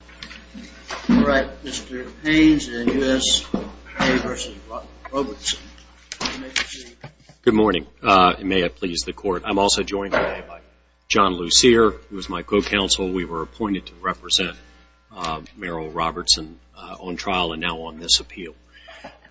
All right, Mr. Haynes and U.S. v. Robertson. Good morning, and may it please the Court. I'm also joined today by John Lucere, who is my co-counsel. We were appointed to represent Merrill Robertson on trial and now on this appeal.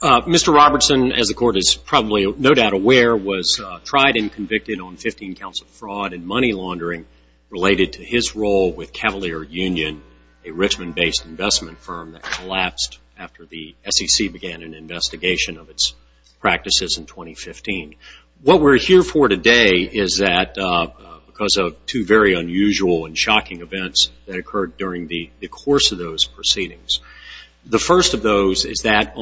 Mr. Robertson, as the Court is probably no doubt aware, was tried and convicted on 15 counts of fraud and money laundering related to his role with Cavalier Union, a Richmond-based investment firm that collapsed after the SEC began an investigation of its practices in 2015. What we're here for today is that because of two very unusual and shocking events that occurred during the course of those proceedings. The first of those is that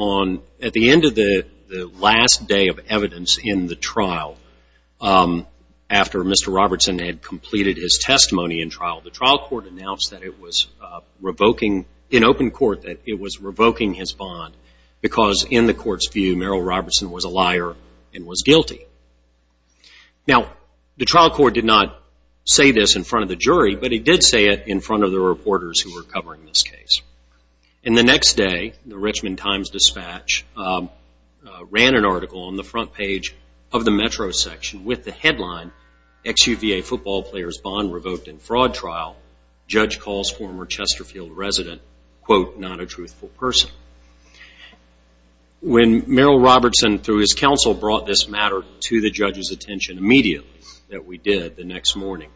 at the end of the last day of evidence in the trial, after Mr. Robertson had completed his testimony in trial, the trial court announced in open court that it was revoking his bond because in the Court's view, Merrill Robertson was a liar and was guilty. Now, the trial court did not say this in front of the jury, but it did say it in front of the reporters who were covering this case. And the next day, the Richmond Times-Dispatch ran an article on the front page of the Metro section with the headline, Ex-UVA Football Players Bond Revoked in Fraud Trial. Judge Calls Former Chesterfield Resident, Quote, Not a Truthful Person. When Merrill Robertson, through his counsel, brought this matter to the judge's attention immediately, that we did the next morning.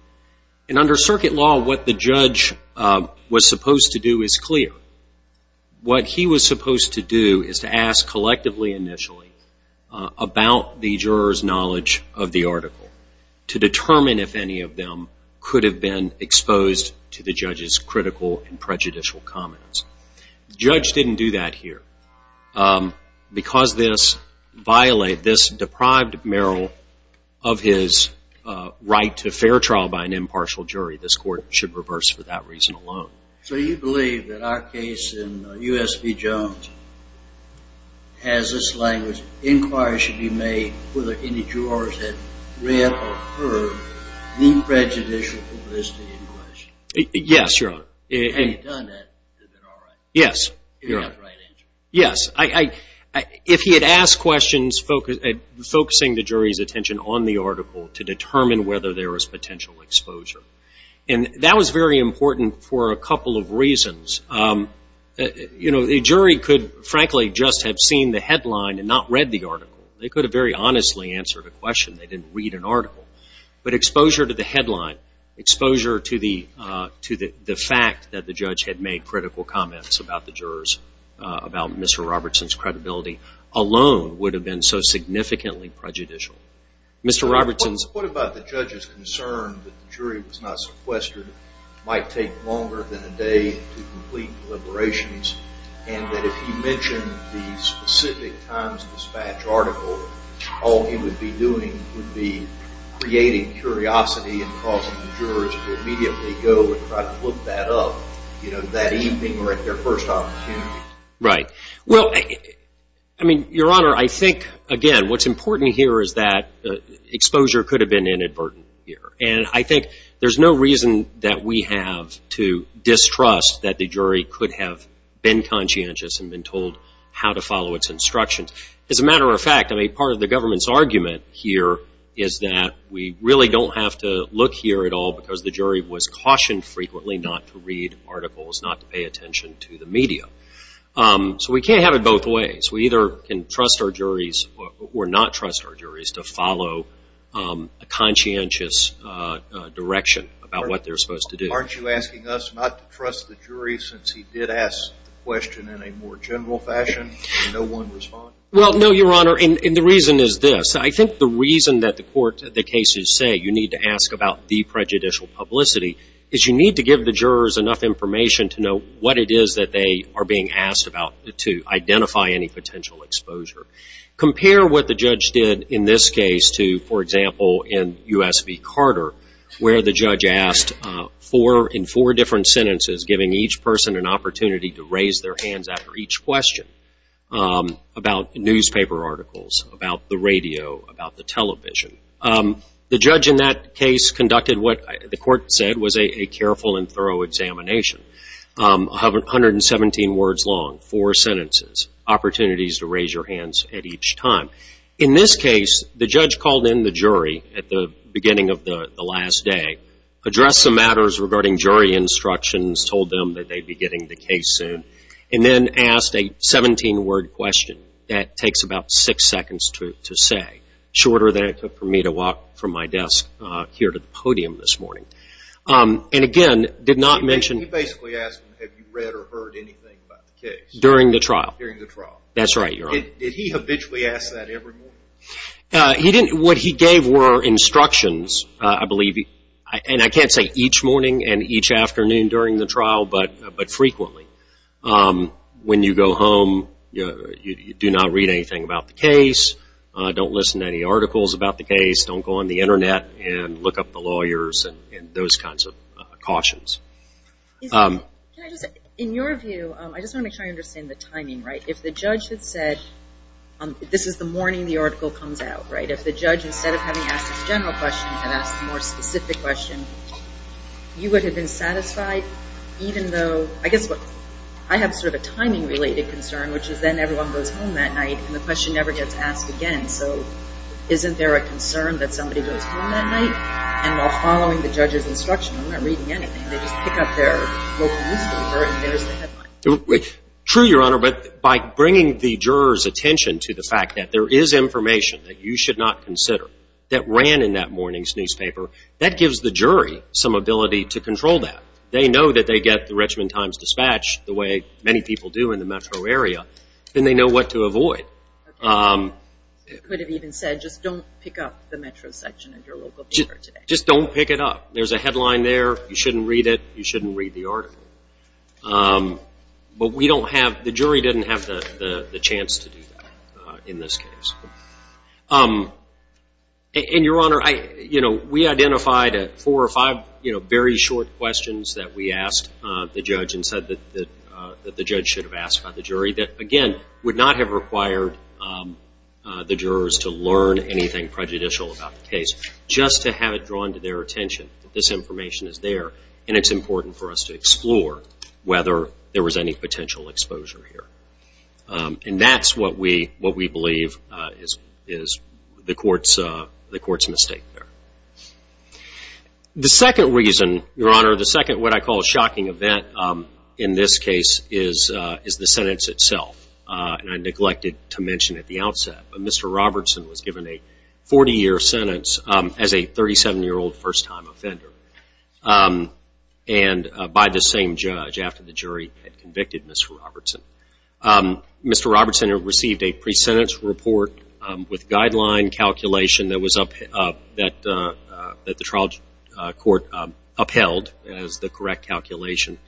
And under circuit law, what the judge was supposed to do is clear. What he was supposed to do is to ask collectively initially about the juror's knowledge of the article to determine if any of them could have been exposed to the judge's critical and prejudicial comments. The judge didn't do that here. Because this deprived Merrill of his right to fair trial by an impartial jury, this court should reverse for that reason alone. So you believe that our case in U.S. v. Jones has this language, inquiries should be made whether any jurors had read or heard the prejudicial publicity in question. Yes, Your Honor. Had he done that, it would have been all right. Yes, Your Honor. He would have had the right answer. Yes. If he had asked questions focusing the jury's attention on the article to determine whether there was potential exposure. And that was very important for a couple of reasons. You know, the jury could, frankly, just have seen the headline and not read the article. They could have very honestly answered a question. They didn't read an article. But exposure to the headline, exposure to the fact that the judge had made critical comments about the jurors, about Mr. Robertson's credibility, alone would have been so significantly prejudicial. Mr. Robertson's What about the judge's concern that the jury was not sequestered, might take longer than a day to complete deliberations, and that if he mentioned the specific Times-Dispatch article, all he would be doing would be creating curiosity and causing the jurors to immediately go and try to look that up, you know, that evening or at their first opportunity. Right. Well, I mean, Your Honor, I think, again, what's important here is that exposure could have been inadvertent here. And I think there's no reason that we have to distrust that the jury could have been conscientious and been told how to follow its instructions. As a matter of fact, I mean, part of the government's argument here is that we really don't have to look here at all because the jury was cautioned frequently not to read articles, not to pay attention to the media. So we can't have it both ways. We either can trust our juries or not trust our juries to follow a conscientious direction about what they're supposed to do. Aren't you asking us not to trust the jury since he did ask the question in a more general fashion and no one responded? Well, no, Your Honor, and the reason is this. I think the reason that the court, the cases, say you need to ask about the prejudicial publicity is you need to give the jurors enough information to know what it is that they are being asked about to identify any potential exposure. Compare what the judge did in this case to, for example, in U.S. v. Carter, where the judge asked in four different sentences, giving each person an opportunity to raise their hands after each question about newspaper articles, about the radio, about the television. The judge in that case conducted what the court said was a careful and thorough examination, 117 words long, four sentences, opportunities to raise your hands at each time. In this case, the judge called in the jury at the beginning of the last day, addressed the matters regarding jury instructions, told them that they'd be getting the case soon, and then asked a 17-word question that takes about six seconds to say, shorter than it took for me to walk from my desk here to the podium this morning. And again, did not mention... He basically asked him, have you read or heard anything about the case? During the trial. During the trial. That's right, Your Honor. Did he habitually ask that every morning? What he gave were instructions, I believe, and I can't say each morning and each afternoon during the trial, but frequently. When you go home, you do not read anything about the case, don't listen to any articles about the case, don't go on the Internet and look up the lawyers and those kinds of cautions. In your view, I just want to make sure I understand the timing, right? If the judge had said, this is the morning the article comes out, right? If the judge, instead of having asked a general question, had asked a more specific question, you would have been satisfied even though, I guess I have sort of a timing-related concern, which is then everyone goes home that night and the question never gets asked again. So isn't there a concern that somebody goes home that night and while following the judge's instruction, I'm not reading anything. They just pick up their local newspaper and there's the headline. True, Your Honor, but by bringing the juror's attention to the fact that there is information that you should not consider that ran in that morning's newspaper, that gives the jury some ability to control that. They know that they get the Richmond Times-Dispatch, the way many people do in the metro area, and they know what to avoid. You could have even said, just don't pick up the metro section of your local paper today. Just don't pick it up. There's a headline there. You shouldn't read it. You shouldn't read the article. But we don't have, the jury didn't have the chance to do that in this case. And, Your Honor, we identified four or five very short questions that we asked the judge and said that the judge should have asked by the jury that, again, would not have required the jurors to learn anything prejudicial about the case, just to have it drawn to their attention that this information is there and it's important for us to explore whether there was any potential exposure here. And that's what we believe is the court's mistake there. The second reason, Your Honor, the second what I call shocking event in this case, is the sentence itself, and I neglected to mention at the outset. Mr. Robertson was given a 40-year sentence as a 37-year-old first-time offender by the same judge after the jury had convicted Mr. Robertson. Mr. Robertson received a pre-sentence report with guideline calculation that the trial court upheld as the correct calculation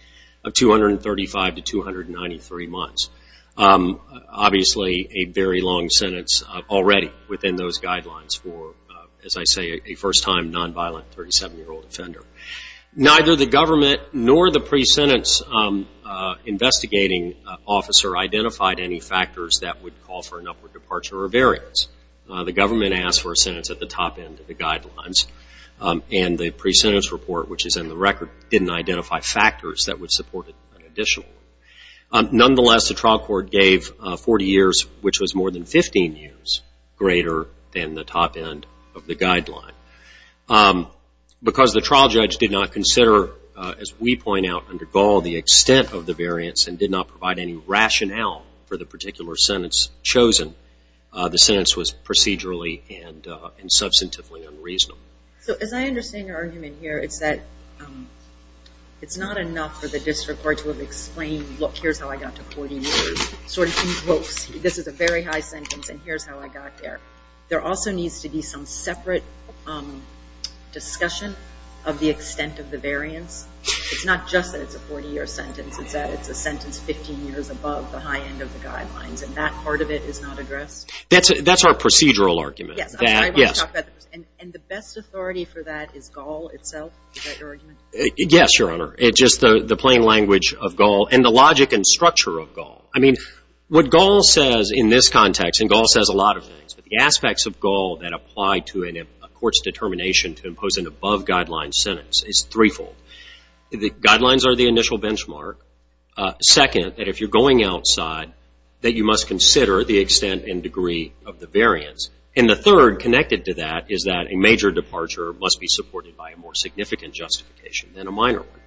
of 235 to 293 months. Obviously, a very long sentence already within those guidelines for, as I say, a first-time nonviolent 37-year-old offender. Neither the government nor the pre-sentence investigating officer identified any factors that would call for an upward departure or variance. The government asked for a sentence at the top end of the guidelines, and the pre-sentence report, which is in the record, didn't identify factors that would support it additionally. Nonetheless, the trial court gave 40 years, which was more than 15 years, greater than the top end of the guideline. Because the trial judge did not consider, as we point out under Gaul, the extent of the variance and did not provide any rationale for the particular sentence chosen, the sentence was procedurally and substantively unreasonable. So as I understand your argument here, it's that it's not enough for the district court to have explained, look, here's how I got to 40 years, sort of in quotes. This is a very high sentence, and here's how I got there. There also needs to be some separate discussion of the extent of the variance. It's not just that it's a 40-year sentence. It's that it's a sentence 15 years above the high end of the guidelines, and that part of it is not addressed. That's our procedural argument. Yes. And the best authority for that is Gaul itself? Is that your argument? Yes, Your Honor. It's just the plain language of Gaul and the logic and structure of Gaul. I mean, what Gaul says in this context, and Gaul says a lot of things, but the aspects of Gaul that apply to a court's determination to impose an above-guideline sentence is threefold. The guidelines are the initial benchmark. Second, that if you're going outside, that you must consider the extent and degree of the variance. And the third, connected to that, is that a major departure must be supported by a more significant justification than a minor one.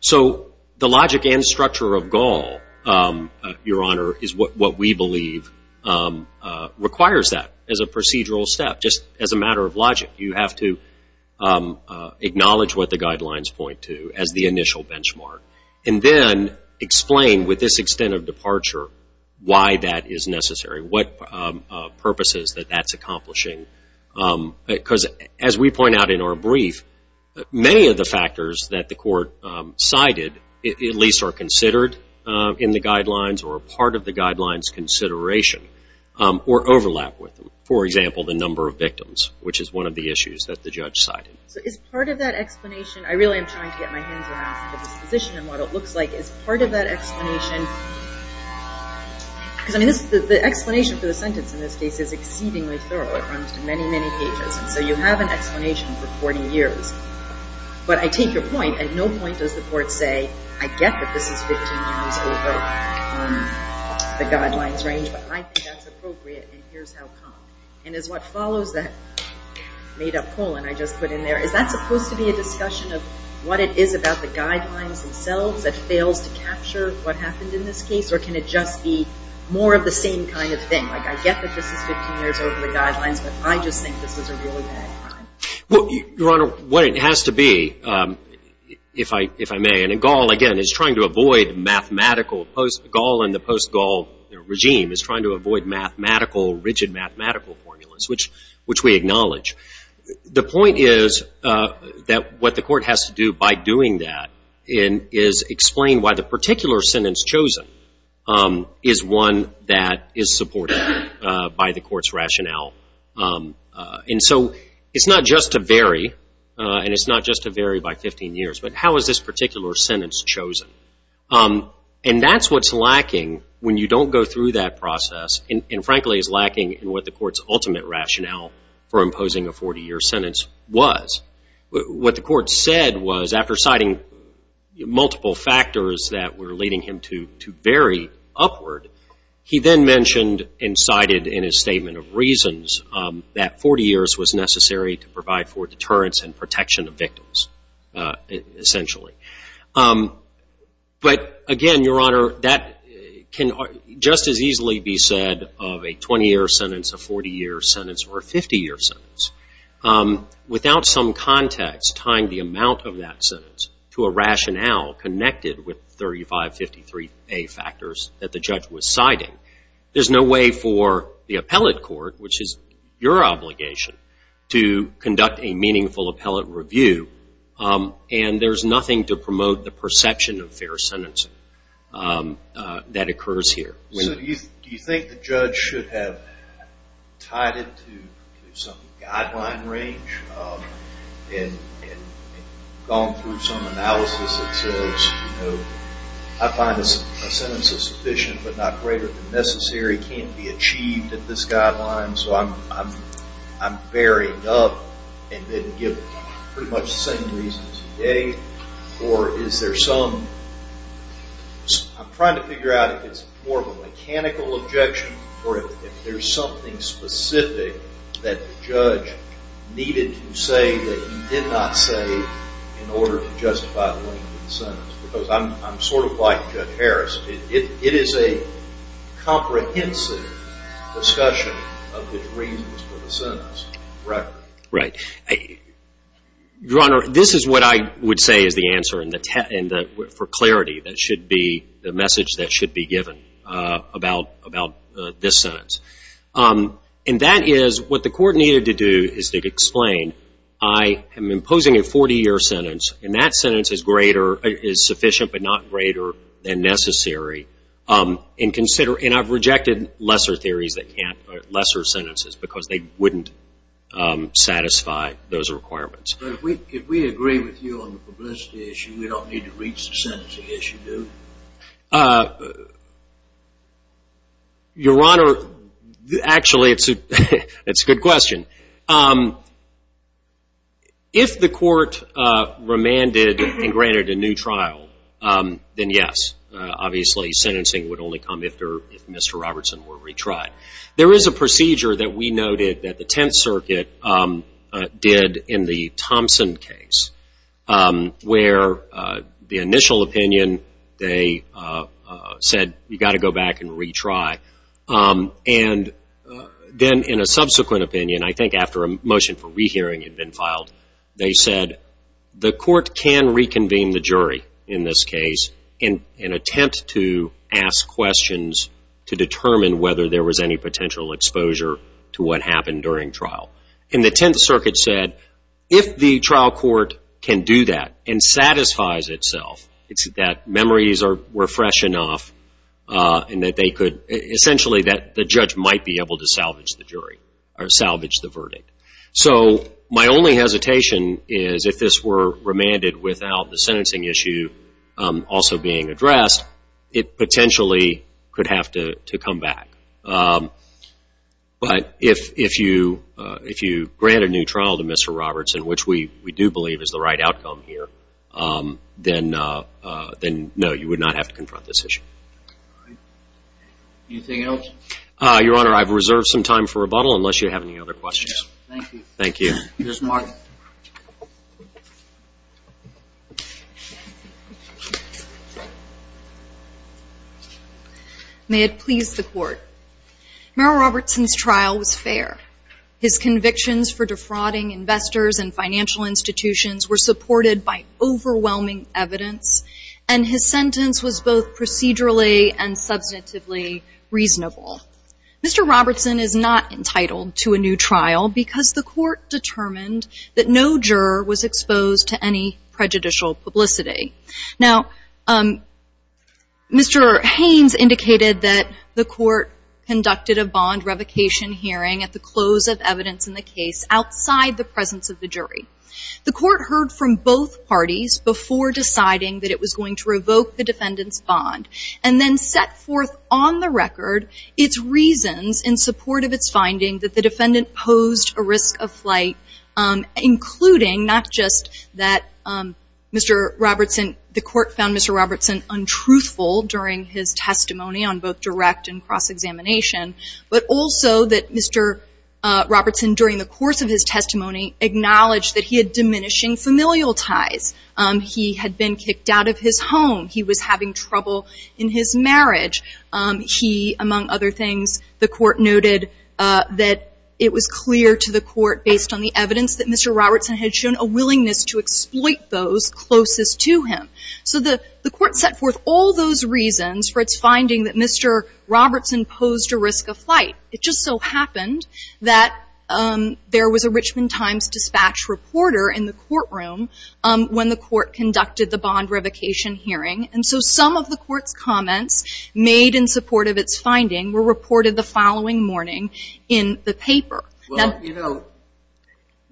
So the logic and structure of Gaul, Your Honor, is what we believe requires that as a procedural step. Just as a matter of logic, you have to acknowledge what the guidelines point to as the initial benchmark. And then explain, with this extent of departure, why that is necessary, what purposes that that's accomplishing. Because, as we point out in our brief, many of the factors that the court cited at least are considered in the guidelines or are part of the guidelines' consideration or overlap with them. For example, the number of victims, which is one of the issues that the judge cited. So is part of that explanation, I really am trying to get my hands around the disposition and what it looks like. Is part of that explanation, because the explanation for the sentence in this case is exceedingly thorough. It runs to many, many pages. And so you have an explanation for 40 years. But I take your point. At no point does the court say, I get that this is 15 times over the guidelines' range, but I think that's appropriate and here's how come. And is what follows that made-up colon I just put in there, is that supposed to be a discussion of what it is about the guidelines themselves that fails to capture what happened in this case? Or can it just be more of the same kind of thing? Like, I get that this is 15 years over the guidelines, but I just think this is a really bad crime. Your Honor, what it has to be, if I may, and Gall, again, is trying to avoid mathematical, Gall and the post-Gall regime is trying to avoid mathematical, rigid mathematical formulas, which we acknowledge. The point is that what the court has to do by doing that is explain why the particular sentence chosen is one that is supported by the court's rationale. And so it's not just to vary, and it's not just to vary by 15 years, but how is this particular sentence chosen? And that's what's lacking when you don't go through that process, and frankly is lacking in what the court's ultimate rationale for imposing a 40-year sentence was. What the court said was, after citing multiple factors that were leading him to vary upward, he then mentioned and cited in his statement of reasons that 40 years was necessary to provide for deterrence and protection of victims, essentially. But again, Your Honor, that can just as easily be said of a 20-year sentence, a 40-year sentence, or a 50-year sentence, without some context tying the amount of that sentence to a rationale connected with 3553A factors that the judge was citing. There's no way for the appellate court, which is your obligation, to conduct a meaningful appellate review, and there's nothing to promote the perception of fair sentencing that occurs here. So do you think the judge should have tied it to some guideline range and gone through some analysis that says, you know, I find a sentence is sufficient but not greater than necessary, can't be achieved at this guideline, so I'm varying up and then give pretty much the same reasons today? Or is there some – I'm trying to figure out if it's more of a mechanical objection or if there's something specific that the judge needed to say that he did not say in order to justify the length of the sentence. Because I'm sort of like Judge Harris. It is a comprehensive discussion of the reasons for the sentence, right? Right. Your Honor, this is what I would say is the answer for clarity. That should be the message that should be given about this sentence. And that is what the court needed to do is to explain, I am imposing a 40-year sentence, and that sentence is greater – is sufficient but not greater than necessary. And consider – and I've rejected lesser theories that can't – lesser sentences because they wouldn't satisfy those requirements. But if we agree with you on the publicity issue, we don't need to reach the sentencing issue, do we? Your Honor, actually, it's a good question. If the court remanded and granted a new trial, then yes. Obviously, sentencing would only come if Mr. Robertson were retried. There is a procedure that we noted that the Tenth Circuit did in the Thompson case, where the initial opinion, they said, you've got to go back and retry. And then in a subsequent opinion, I think after a motion for rehearing had been filed, they said the court can reconvene the jury in this case and attempt to ask questions to determine whether there was any potential exposure to what happened during trial. And the Tenth Circuit said if the trial court can do that and satisfies itself, it's that memories were fresh enough and that they could – essentially that the judge might be able to salvage the jury or salvage the verdict. So my only hesitation is if this were remanded without the sentencing issue also being addressed, it potentially could have to come back. But if you grant a new trial to Mr. Robertson, which we do believe is the right outcome here, then no, you would not have to confront this issue. Anything else? Your Honor, I've reserved some time for rebuttal unless you have any other questions. Thank you. Thank you. Ms. Martin. May it please the Court. Merrill Robertson's trial was fair. His convictions for defrauding investors and financial institutions were supported by overwhelming evidence, and his sentence was both procedurally and substantively reasonable. Mr. Robertson is not entitled to a new trial because the court determined that no juror was exposed to any prejudicial publicity. Now, Mr. Haynes indicated that the court conducted a bond revocation hearing at the close of evidence in the case outside the presence of the jury. The court heard from both parties before deciding that it was going to revoke the defendant's bond and then set forth on the record its reasons in support of its finding that the defendant posed a risk of flight, including not just that Mr. Robertson, the court found Mr. Robertson untruthful during his testimony on both direct and cross-examination, but also that Mr. Robertson, during the course of his testimony, acknowledged that he had diminishing familial ties. He had been kicked out of his home. He was having trouble in his marriage. He, among other things, the court noted that it was clear to the court, based on the evidence, that Mr. Robertson had shown a willingness to exploit those closest to him. So the court set forth all those reasons for its finding that Mr. Robertson posed a risk of flight. It just so happened that there was a Richmond Times dispatch reporter in the courtroom when the court conducted the bond revocation hearing. And so some of the court's comments made in support of its finding were reported the following morning in the paper. Well, you know,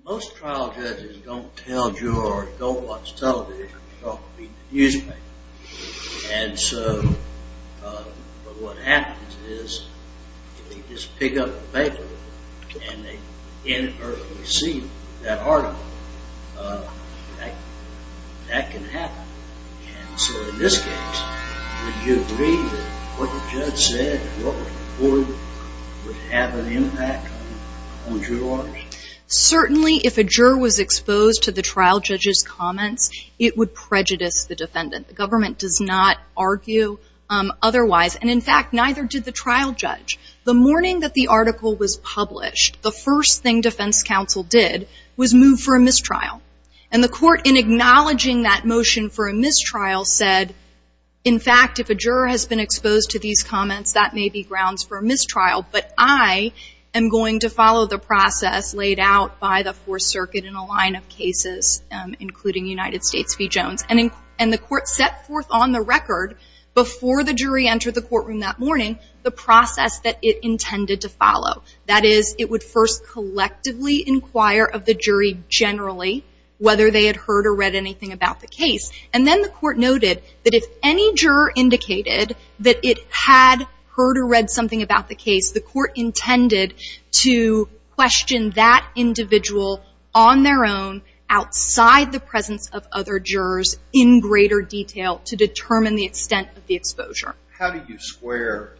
most trial judges don't tell you or don't watch television, don't read the newspaper. And so what happens is they just pick up the paper and they inadvertently see that article. That can happen. And so in this case, would you agree that what the judge said would have an impact on jurors? Certainly if a juror was exposed to the trial judge's comments, it would prejudice the defendant. The government does not argue otherwise. And, in fact, neither did the trial judge. The morning that the article was published, the first thing defense counsel did was move for a mistrial. And the court, in acknowledging that motion for a mistrial, said, in fact, if a juror has been exposed to these comments, that may be grounds for a mistrial, but I am going to follow the process laid out by the Fourth Circuit in a line of cases, including United States v. Jones. And the court set forth on the record, before the jury entered the courtroom that morning, the process that it intended to follow. That is, it would first collectively inquire of the jury generally, whether they had heard or read anything about the case. And then the court noted that if any juror indicated that it had heard or read something about the case, the court intended to question that individual on their own, outside the presence of other jurors in greater detail to determine the extent of the exposure. How do you square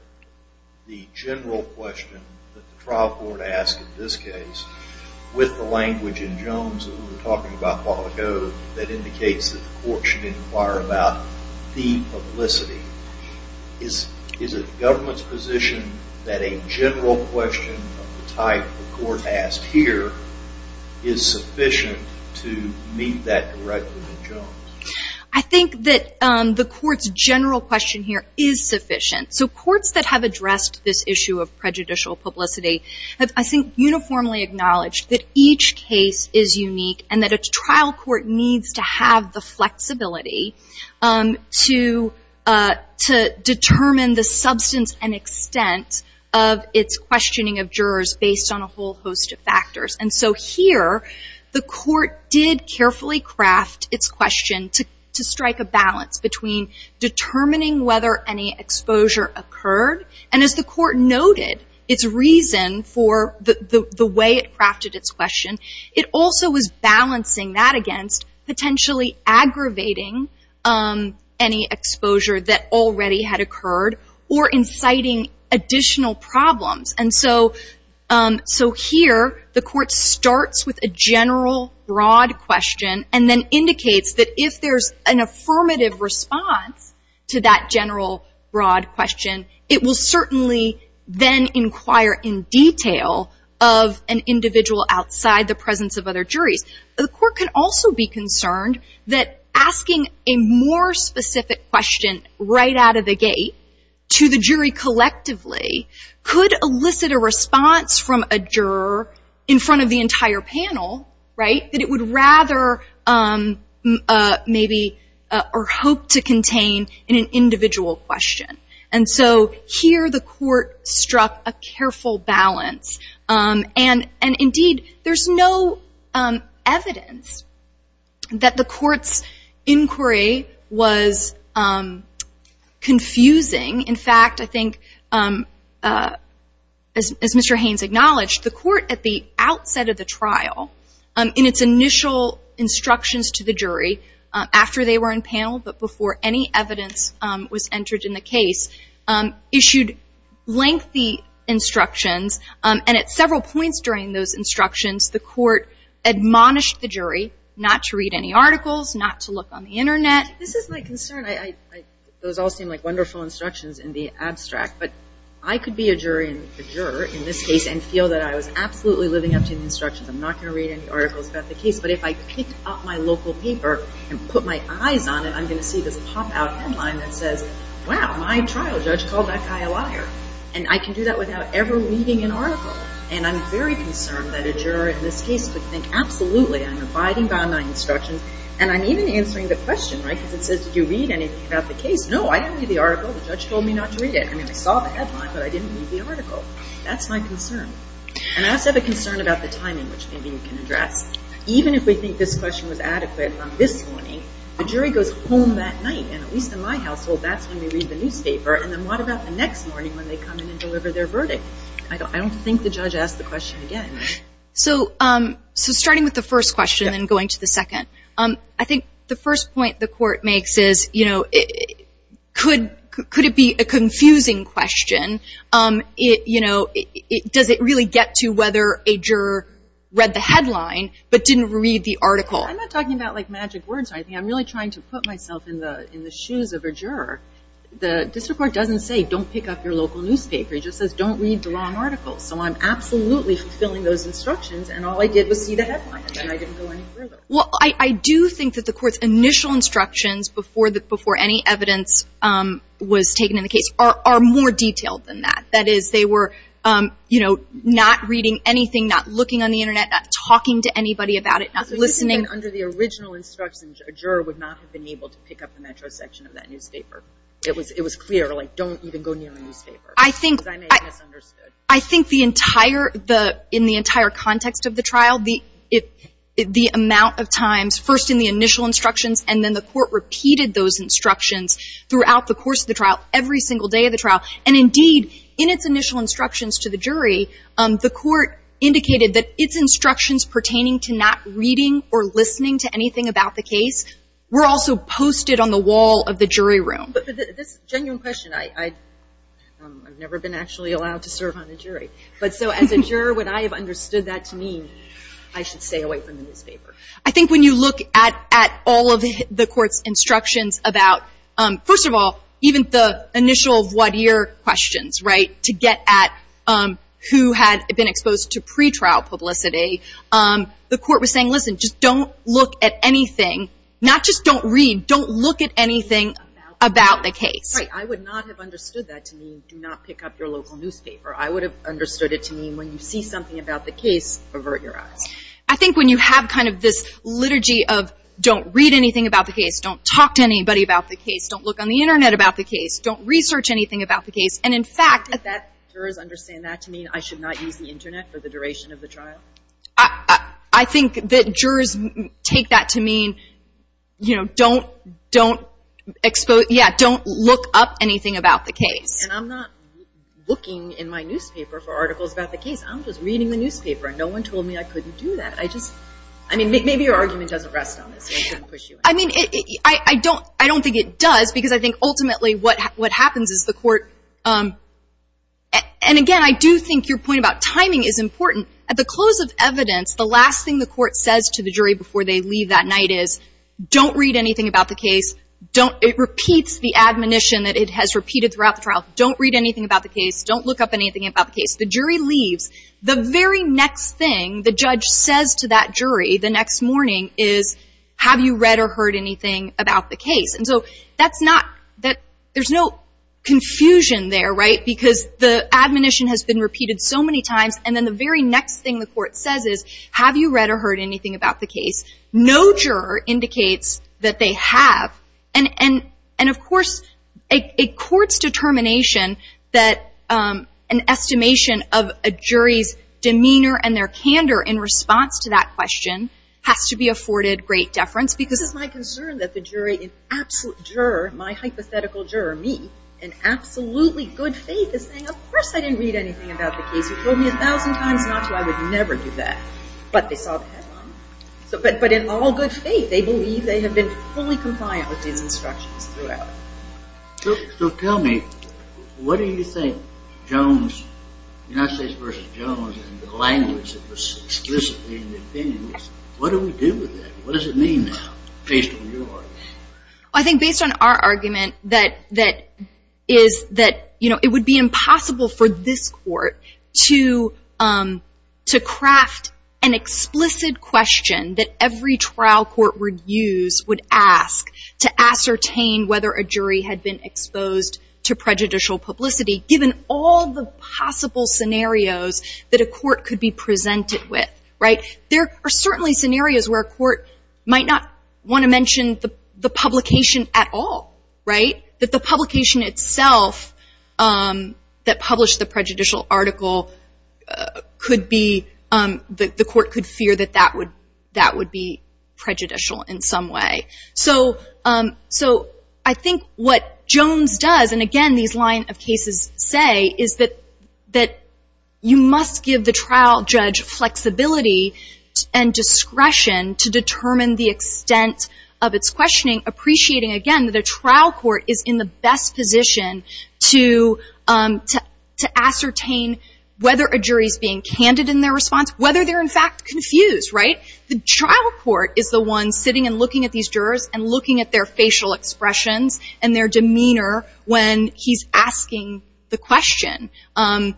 the general question that the trial court asked in this case with the language in Jones that we were talking about a while ago that indicates that the court should inquire about the publicity? Is it the government's position that a general question of the type the court asked here is sufficient to meet that directly with Jones? I think that the court's general question here is sufficient. So courts that have addressed this issue of prejudicial publicity have, I think, uniformly acknowledged that each case is unique and that a trial court needs to have the flexibility to determine the substance and extent of its questioning of jurors based on a whole host of factors. And so here, the court did carefully craft its question to strike a balance between determining whether any exposure occurred. And as the court noted, its reason for the way it crafted its question, it also was balancing that against potentially aggravating any exposure that already had occurred or inciting additional problems. And so here, the court starts with a general, broad question and then indicates that if there's an affirmative response to that general, broad question, it will certainly then inquire in detail of an individual outside the presence of other juries. The court can also be concerned that asking a more specific question right out of the gate to the jury collectively could elicit a response from a juror in front of the entire panel, right, that it would rather maybe or hope to contain in an individual question. And so here, the court struck a careful balance. And indeed, there's no evidence that the court's inquiry was confusing. In fact, I think, as Mr. Haynes acknowledged, the court at the outset of the trial, in its initial instructions to the jury after they were in panel but before any evidence was entered in the case, issued lengthy instructions, and at several points during those instructions, the court admonished the jury not to read any articles, not to look on the Internet. This is my concern. Those all seem like wonderful instructions in the abstract, but I could be a juror in this case and feel that I was absolutely living up to the instructions. I'm not going to read any articles about the case, but if I picked up my local paper and put my eyes on it, I'm going to see this pop-out headline that says, wow, my trial judge called that guy a liar. And I can do that without ever reading an article. And I'm very concerned that a juror in this case could think, absolutely, I'm abiding by my instructions. And I'm even answering the question, right, because it says, did you read anything about the case? No, I didn't read the article. The judge told me not to read it. I mean, I saw the headline, but I didn't read the article. That's my concern. And I also have a concern about the timing, which maybe you can address. Even if we think this question was adequate on this morning, the jury goes home that night. And at least in my household, that's when we read the newspaper. And then what about the next morning when they come in and deliver their verdict? I don't think the judge asked the question again. So starting with the first question and going to the second, I think the first point the court makes is, you know, could it be a confusing question? You know, does it really get to whether a juror read the headline but didn't read the article? I'm not talking about, like, magic words or anything. I'm really trying to put myself in the shoes of a juror. The district court doesn't say, don't pick up your local newspaper. It just says, don't read the wrong article. So I'm absolutely fulfilling those instructions, and all I did was see the headline, and I didn't go any further. Well, I do think that the court's initial instructions before any evidence was taken in the case are more detailed. That is, they were, you know, not reading anything, not looking on the Internet, not talking to anybody about it, not listening. Under the original instructions, a juror would not have been able to pick up the metro section of that newspaper. It was clear, like, don't even go near the newspaper. I think the entire, in the entire context of the trial, the amount of times, first in the initial instructions and then the court repeated those instructions throughout the course of the trial, every single day of the trial. And indeed, in its initial instructions to the jury, the court indicated that its instructions pertaining to not reading or listening to anything about the case were also posted on the wall of the jury room. But this genuine question, I've never been actually allowed to serve on a jury. But so as a juror, when I have understood that to mean I should stay away from the newspaper. I think when you look at all of the court's instructions about, first of all, even the initial of what year questions, right, to get at who had been exposed to pretrial publicity, the court was saying, listen, just don't look at anything. Not just don't read, don't look at anything about the case. Right. I would not have understood that to mean do not pick up your local newspaper. I would have understood it to mean when you see something about the case, avert your eyes. I think when you have kind of this liturgy of don't read anything about the case, don't talk to anybody about the case, don't look on the Internet about the case, don't research anything about the case. And, in fact, that jurors understand that to mean I should not use the Internet for the duration of the trial? I think that jurors take that to mean, you know, don't expose, yeah, don't look up anything about the case. And I'm not looking in my newspaper for articles about the case. I'm just reading the newspaper. No one told me I couldn't do that. I just, I mean, maybe your argument doesn't rest on this. I mean, I don't think it does because I think ultimately what happens is the court, and, again, I do think your point about timing is important. At the close of evidence, the last thing the court says to the jury before they leave that night is, don't read anything about the case. It repeats the admonition that it has repeated throughout the trial. Don't read anything about the case. Don't look up anything about the case. The jury leaves. The very next thing the judge says to that jury the next morning is, have you read or heard anything about the case? And so that's not, there's no confusion there, right, because the admonition has been repeated so many times, and then the very next thing the court says is, have you read or heard anything about the case? No juror indicates that they have. And, of course, a court's determination that an estimation of a jury's demeanor and their candor in response to that question has to be afforded great deference because. This is my concern that the jury, an absolute juror, my hypothetical juror, me, in absolutely good faith is saying, of course I didn't read anything about the case. You told me a thousand times not to. I would never do that. But they saw the headline. But in all good faith they believe they have been fully compliant with these instructions throughout. So tell me, what do you think Jones, United States v. Jones, and the language that was explicitly in the opinions, what do we do with that? What does it mean now, based on your argument? I think based on our argument that is that, you know, it would be impossible for this court to craft an explicit question that every trial court would use, would ask, to ascertain whether a jury had been exposed to prejudicial publicity, given all the possible scenarios that a court could be presented with, right? There are certainly scenarios where a court might not want to mention the publication at all, right? But the publication itself that published the prejudicial article could be, the court could fear that that would be prejudicial in some way. So I think what Jones does, and again these line of cases say, is that you must give the trial judge flexibility and discretion to determine the extent of its questioning, appreciating again that a trial court is in the best position to ascertain whether a jury is being candid in their response, whether they're in fact confused, right? The trial court is the one sitting and looking at these jurors and looking at their facial expressions and their demeanor when he's asking the question. And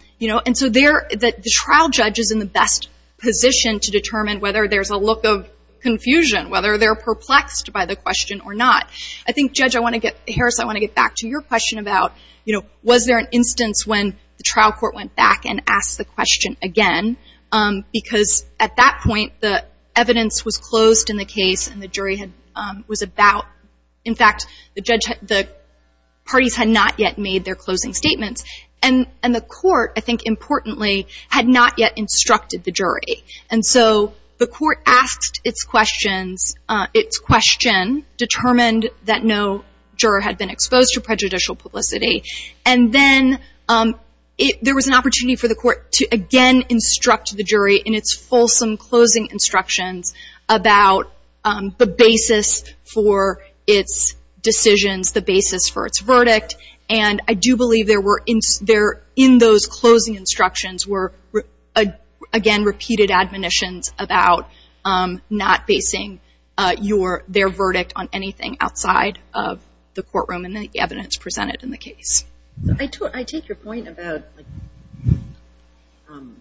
so the trial judge is in the best position to determine whether there's a look of confusion, whether they're perplexed by the question or not. I think, Judge, I want to get, Harris, I want to get back to your question about, you know, was there an instance when the trial court went back and asked the question again? Because at that point the evidence was closed in the case and the jury was about, in fact, the parties had not yet made their closing statements. And the court, I think importantly, had not yet instructed the jury. And so the court asked its questions, its question determined that no juror had been exposed to prejudicial publicity. And then there was an opportunity for the court to again instruct the jury in its fulsome closing instructions about the basis for its decisions, the basis for its verdict. And I do believe there were in those closing instructions were, again, repeated admonitions about not basing their verdict on anything outside of the courtroom and the evidence presented in the case. I take your point about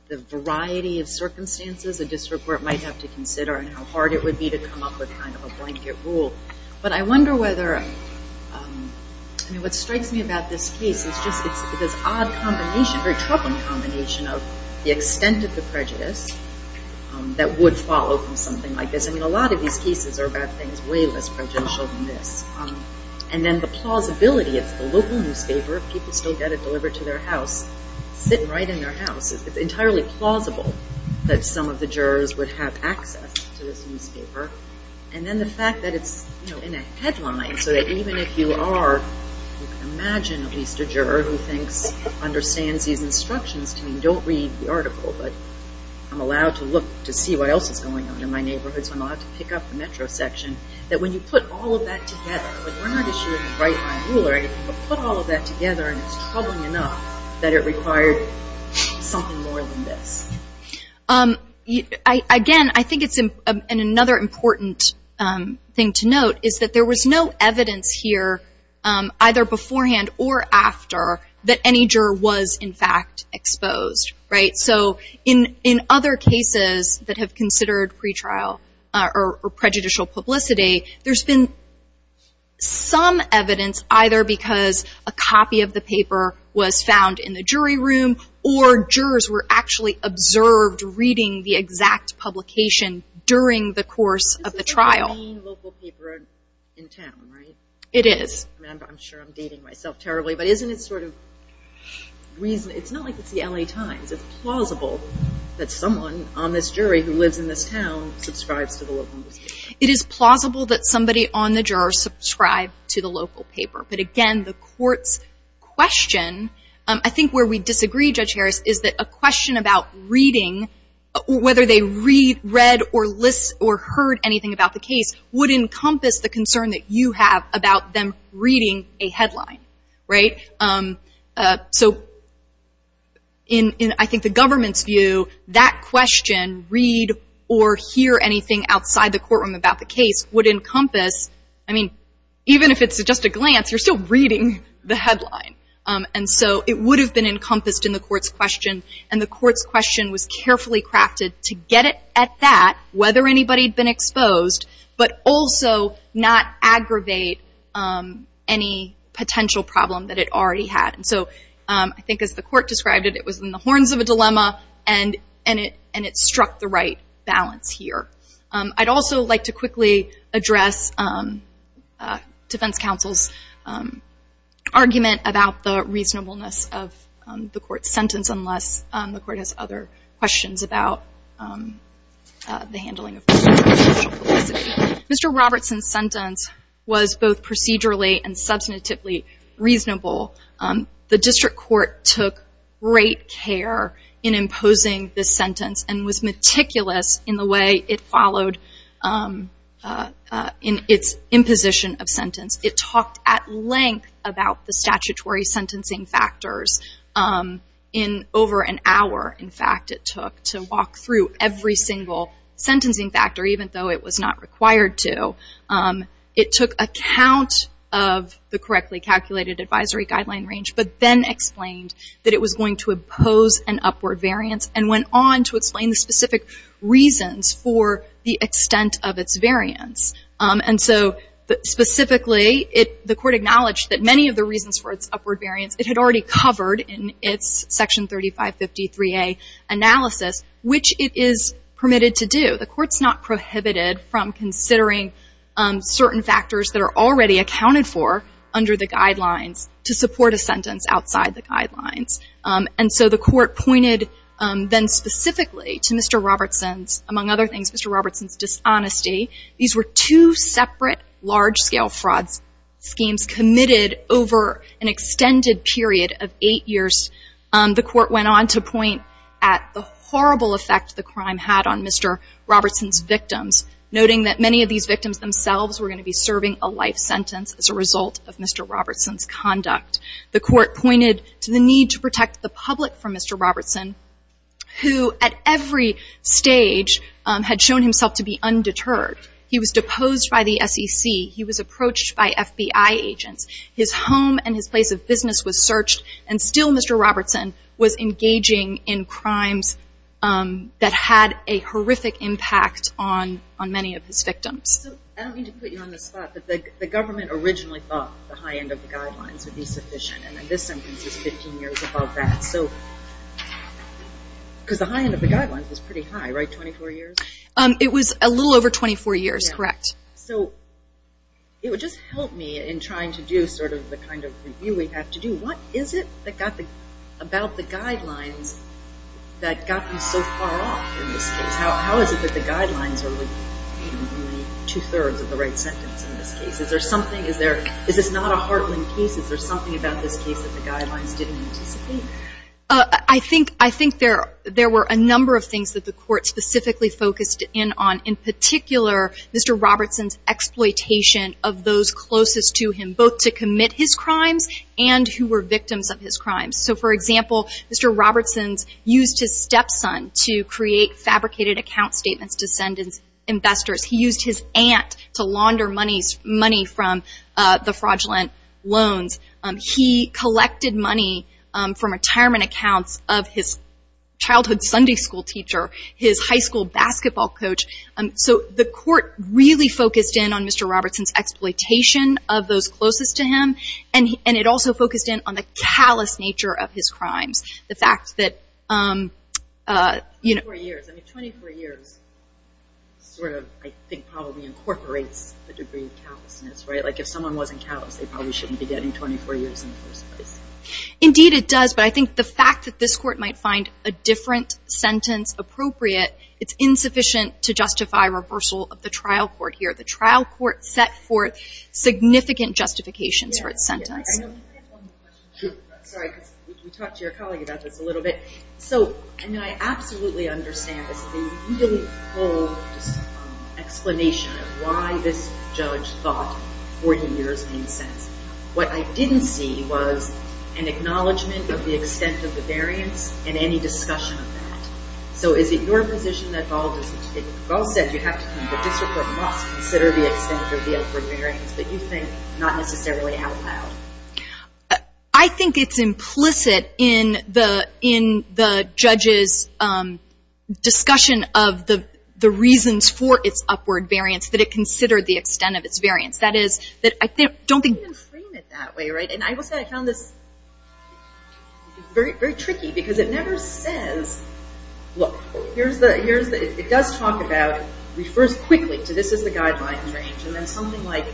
the variety of circumstances a district court might have to consider and how hard it would be to come up with kind of a blanket rule. But I wonder whether, I mean, what strikes me about this case is just it's this odd combination, very troubling combination of the extent of the prejudice that would follow from something like this. I mean, a lot of these cases are about things way less prejudicial than this. And then the plausibility, it's the local newspaper. If people still get it delivered to their house, sitting right in their house, it's entirely plausible that some of the jurors would have access to this newspaper. And then the fact that it's, you know, in a headline so that even if you are, you can imagine at least a juror who thinks, understands these instructions. I mean, don't read the article, but I'm allowed to look to see what else is going on in my neighborhood, so I'm allowed to pick up the metro section. That when you put all of that together, like we're not issuing a bright line rule or anything, but put all of that together and it's troubling enough that it required something more than this. Again, I think it's another important thing to note is that there was no evidence here either beforehand or after that any juror was in fact exposed, right? So in other cases that have considered pretrial or prejudicial publicity, there's been some evidence either because a copy of the paper was found in the jury room or jurors were actually observed reading the exact publication during the course of the trial. This is the main local paper in town, right? It is. I'm sure I'm dating myself terribly, but isn't it sort of, it's not like it's the LA Times. It's plausible that someone on this jury who lives in this town subscribes to the local newspaper. It is plausible that somebody on the juror subscribed to the local paper, but again, the court's question, I think where we disagree, Judge Harris, is that a question about reading, whether they read or heard anything about the case, would encompass the concern that you have about them reading a headline, right? So in I think the government's view, that question, read or hear anything outside the courtroom about the case, would encompass, I mean, even if it's just a glance, you're still reading the headline. And so it would have been encompassed in the court's question, and the court's question was carefully crafted to get it at that, whether anybody had been exposed, but also not aggravate any potential problem that it already had. And so I think as the court described it, it was in the horns of a dilemma, and it struck the right balance here. I'd also like to quickly address defense counsel's argument about the reasonableness of the court's sentence, unless the court has other questions about the handling of this. Mr. Robertson's sentence was both procedurally and substantively reasonable. The district court took great care in imposing this sentence and was meticulous in the way it followed in its imposition of sentence. It talked at length about the statutory sentencing factors in over an hour, in fact, it took to walk through every single sentencing factor, even though it was not required to. It took account of the correctly calculated advisory guideline range, but then explained that it was going to impose an upward variance and went on to explain the specific reasons for the extent of its variance. And so specifically, the court acknowledged that many of the reasons for its upward variance, it had already covered in its Section 3553A analysis, which it is permitted to do. The court's not prohibited from considering certain factors that are already accounted for under the guidelines to support a sentence outside the guidelines. And so the court pointed then specifically to Mr. Robertson's, among other things, Mr. Robertson's dishonesty. These were two separate large-scale fraud schemes committed over an extended period of eight years. The court went on to point at the horrible effect the crime had on Mr. Robertson's victims, noting that many of these victims themselves were going to be serving a life sentence as a result of Mr. Robertson's conduct. The court pointed to the need to protect the public from Mr. Robertson, who at every stage had shown himself to be undeterred. He was deposed by the SEC. He was approached by FBI agents. His home and his place of business was searched, and still Mr. Robertson was engaging in crimes that had a horrific impact on many of his victims. So I don't mean to put you on the spot, but the government originally thought the high end of the guidelines would be sufficient, and this sentence is 15 years above that. So because the high end of the guidelines is pretty high, right, 24 years? It was a little over 24 years, correct. So it would just help me in trying to do sort of the kind of review we have to do. What is it about the guidelines that got you so far off in this case? How is it that the guidelines are within two-thirds of the right sentence in this case? Is there something? Is this not a heartland case? Is there something about this case that the guidelines didn't anticipate? I think there were a number of things that the court specifically focused in on. Mr. Robertson's exploitation of those closest to him, both to commit his crimes and who were victims of his crimes. So, for example, Mr. Robertson used his stepson to create fabricated account statements to send to investors. He used his aunt to launder money from the fraudulent loans. He collected money from retirement accounts of his childhood Sunday school teacher, his high school basketball coach. So the court really focused in on Mr. Robertson's exploitation of those closest to him, and it also focused in on the callous nature of his crimes. The fact that, you know. 24 years. I mean, 24 years sort of, I think, probably incorporates the degree of callousness, right? Like if someone wasn't callous, they probably shouldn't be getting 24 years in the first place. Indeed it does, but I think the fact that this court might find a different sentence appropriate, it's insufficient to justify reversal of the trial court here. The trial court set forth significant justifications for its sentence. I know we have one more question. Sure. Sorry, because we talked to your colleague about this a little bit. So, I mean, I absolutely understand this, but you didn't hold an explanation of why this judge thought 40 years made sense. What I didn't see was an acknowledgment of the extent of the variance and any discussion of that. So, is it your position that Ball said you have to, that this court must consider the extent of the upward variance, but you think not necessarily out loud? I think it's implicit in the judge's discussion of the reasons for its upward variance that it considered the extent of its variance. That is, that I don't think. You can't even frame it that way, right? And I will say I found this very tricky because it never says, look, it does talk about, it refers quickly to this is the guideline range, and then something like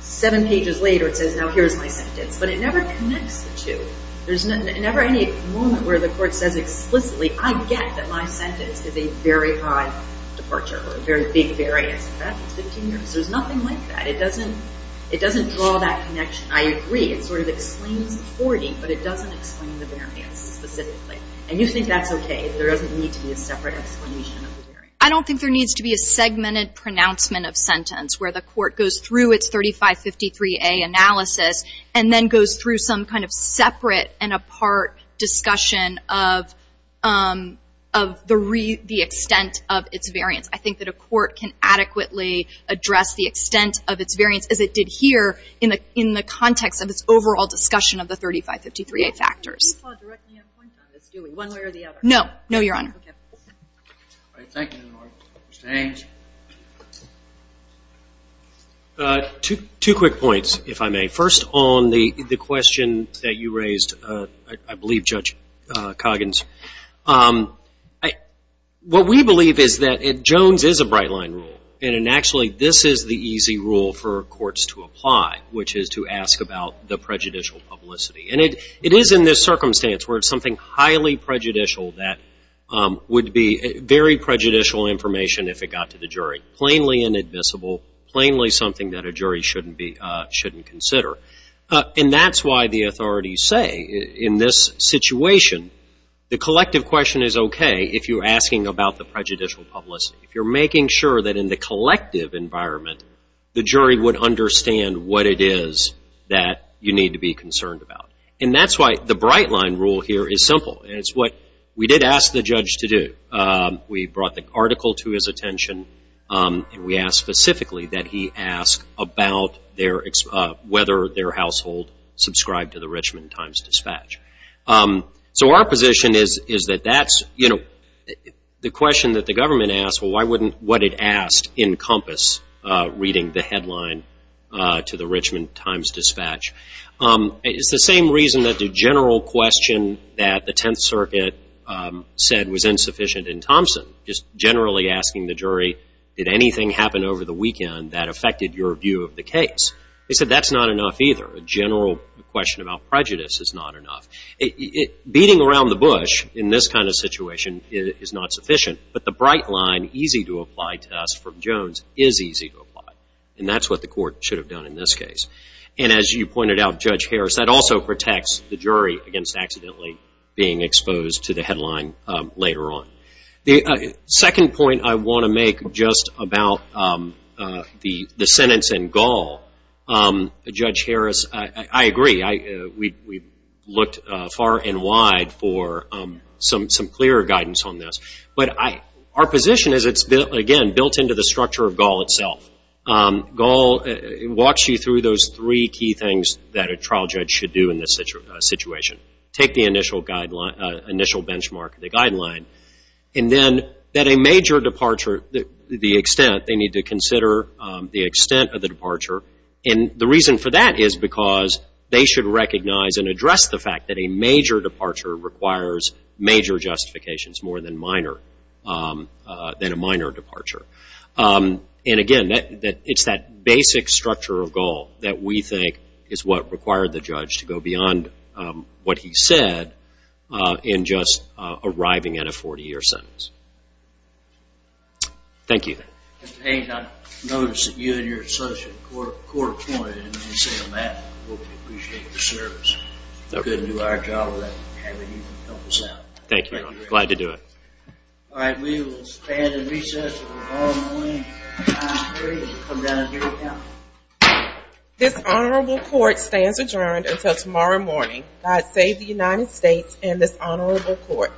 seven pages later it says, now here's my sentence. But it never connects the two. There's never any moment where the court says explicitly, I get that my sentence is a very high departure or a very big variance. In fact, it's 15 years. There's nothing like that. It doesn't draw that connection. I agree. It sort of explains the 40, but it doesn't explain the variance specifically. And you think that's okay? There doesn't need to be a separate explanation of the variance? I don't think there needs to be a segmented pronouncement of sentence where the court goes through its 3553A analysis and then goes through some kind of separate and apart discussion of the extent of its variance. I think that a court can adequately address the extent of its variance as it did here in the context of its overall discussion of the 3553A factors. You can't directly have a point on this, do we, one way or the other? No. No, Your Honor. Okay. All right. Thank you, Your Honor. Mr. Haynes? Two quick points, if I may. First, on the question that you raised, I believe Judge Coggins. What we believe is that Jones is a bright-line rule, and actually this is the easy rule for courts to apply, which is to ask about the prejudicial publicity. And it is in this circumstance where it's something highly prejudicial that would be very prejudicial information if it got to the jury, plainly inadmissible, plainly something that a jury shouldn't consider. And that's why the authorities say, in this situation, the collective question is okay if you're asking about the prejudicial publicity. If you're making sure that in the collective environment, the jury would understand what it is that you need to be concerned about. And that's why the bright-line rule here is simple, and it's what we did ask the judge to do. We brought the article to his attention, and we asked specifically that he ask about whether their household subscribed to the Richmond Times-Dispatch. So our position is that that's, you know, the question that the government asked, well, why wouldn't what it asked encompass reading the headline to the Richmond Times-Dispatch? It's the same reason that the general question that the Tenth Circuit said was insufficient in Thompson, just generally asking the jury, did anything happen over the weekend that affected your view of the case? They said that's not enough either. A general question about prejudice is not enough. Beating around the bush in this kind of situation is not sufficient, but the bright line, easy to apply to us from Jones, is easy to apply. And that's what the court should have done in this case. And as you pointed out, Judge Harris, that also protects the jury against accidentally being exposed to the headline later on. The second point I want to make just about the sentence in Gall, Judge Harris, I agree. We looked far and wide for some clearer guidance on this. But our position is it's, again, built into the structure of Gall itself. Gall walks you through those three key things that a trial judge should do in this situation. Take the initial benchmark, the guideline, and then that a major departure, the extent, they need to consider the extent of the departure. And the reason for that is because they should recognize and address the fact that a major departure requires major justifications more than a minor departure. And, again, it's that basic structure of Gall that we think is what required the judge to go beyond what he said in just arriving at a 40-year sentence. Thank you. Mr. Haynes, I noticed that you and your associate were court-appointed, and when you say that, we appreciate your service. We couldn't do our job without having you help us out. Thank you. Glad to do it. All right, we will stand in recess until the ball is in the lane. I'm ready to come down and hear you now. This honorable court stands adjourned until tomorrow morning. God save the United States and this honorable court.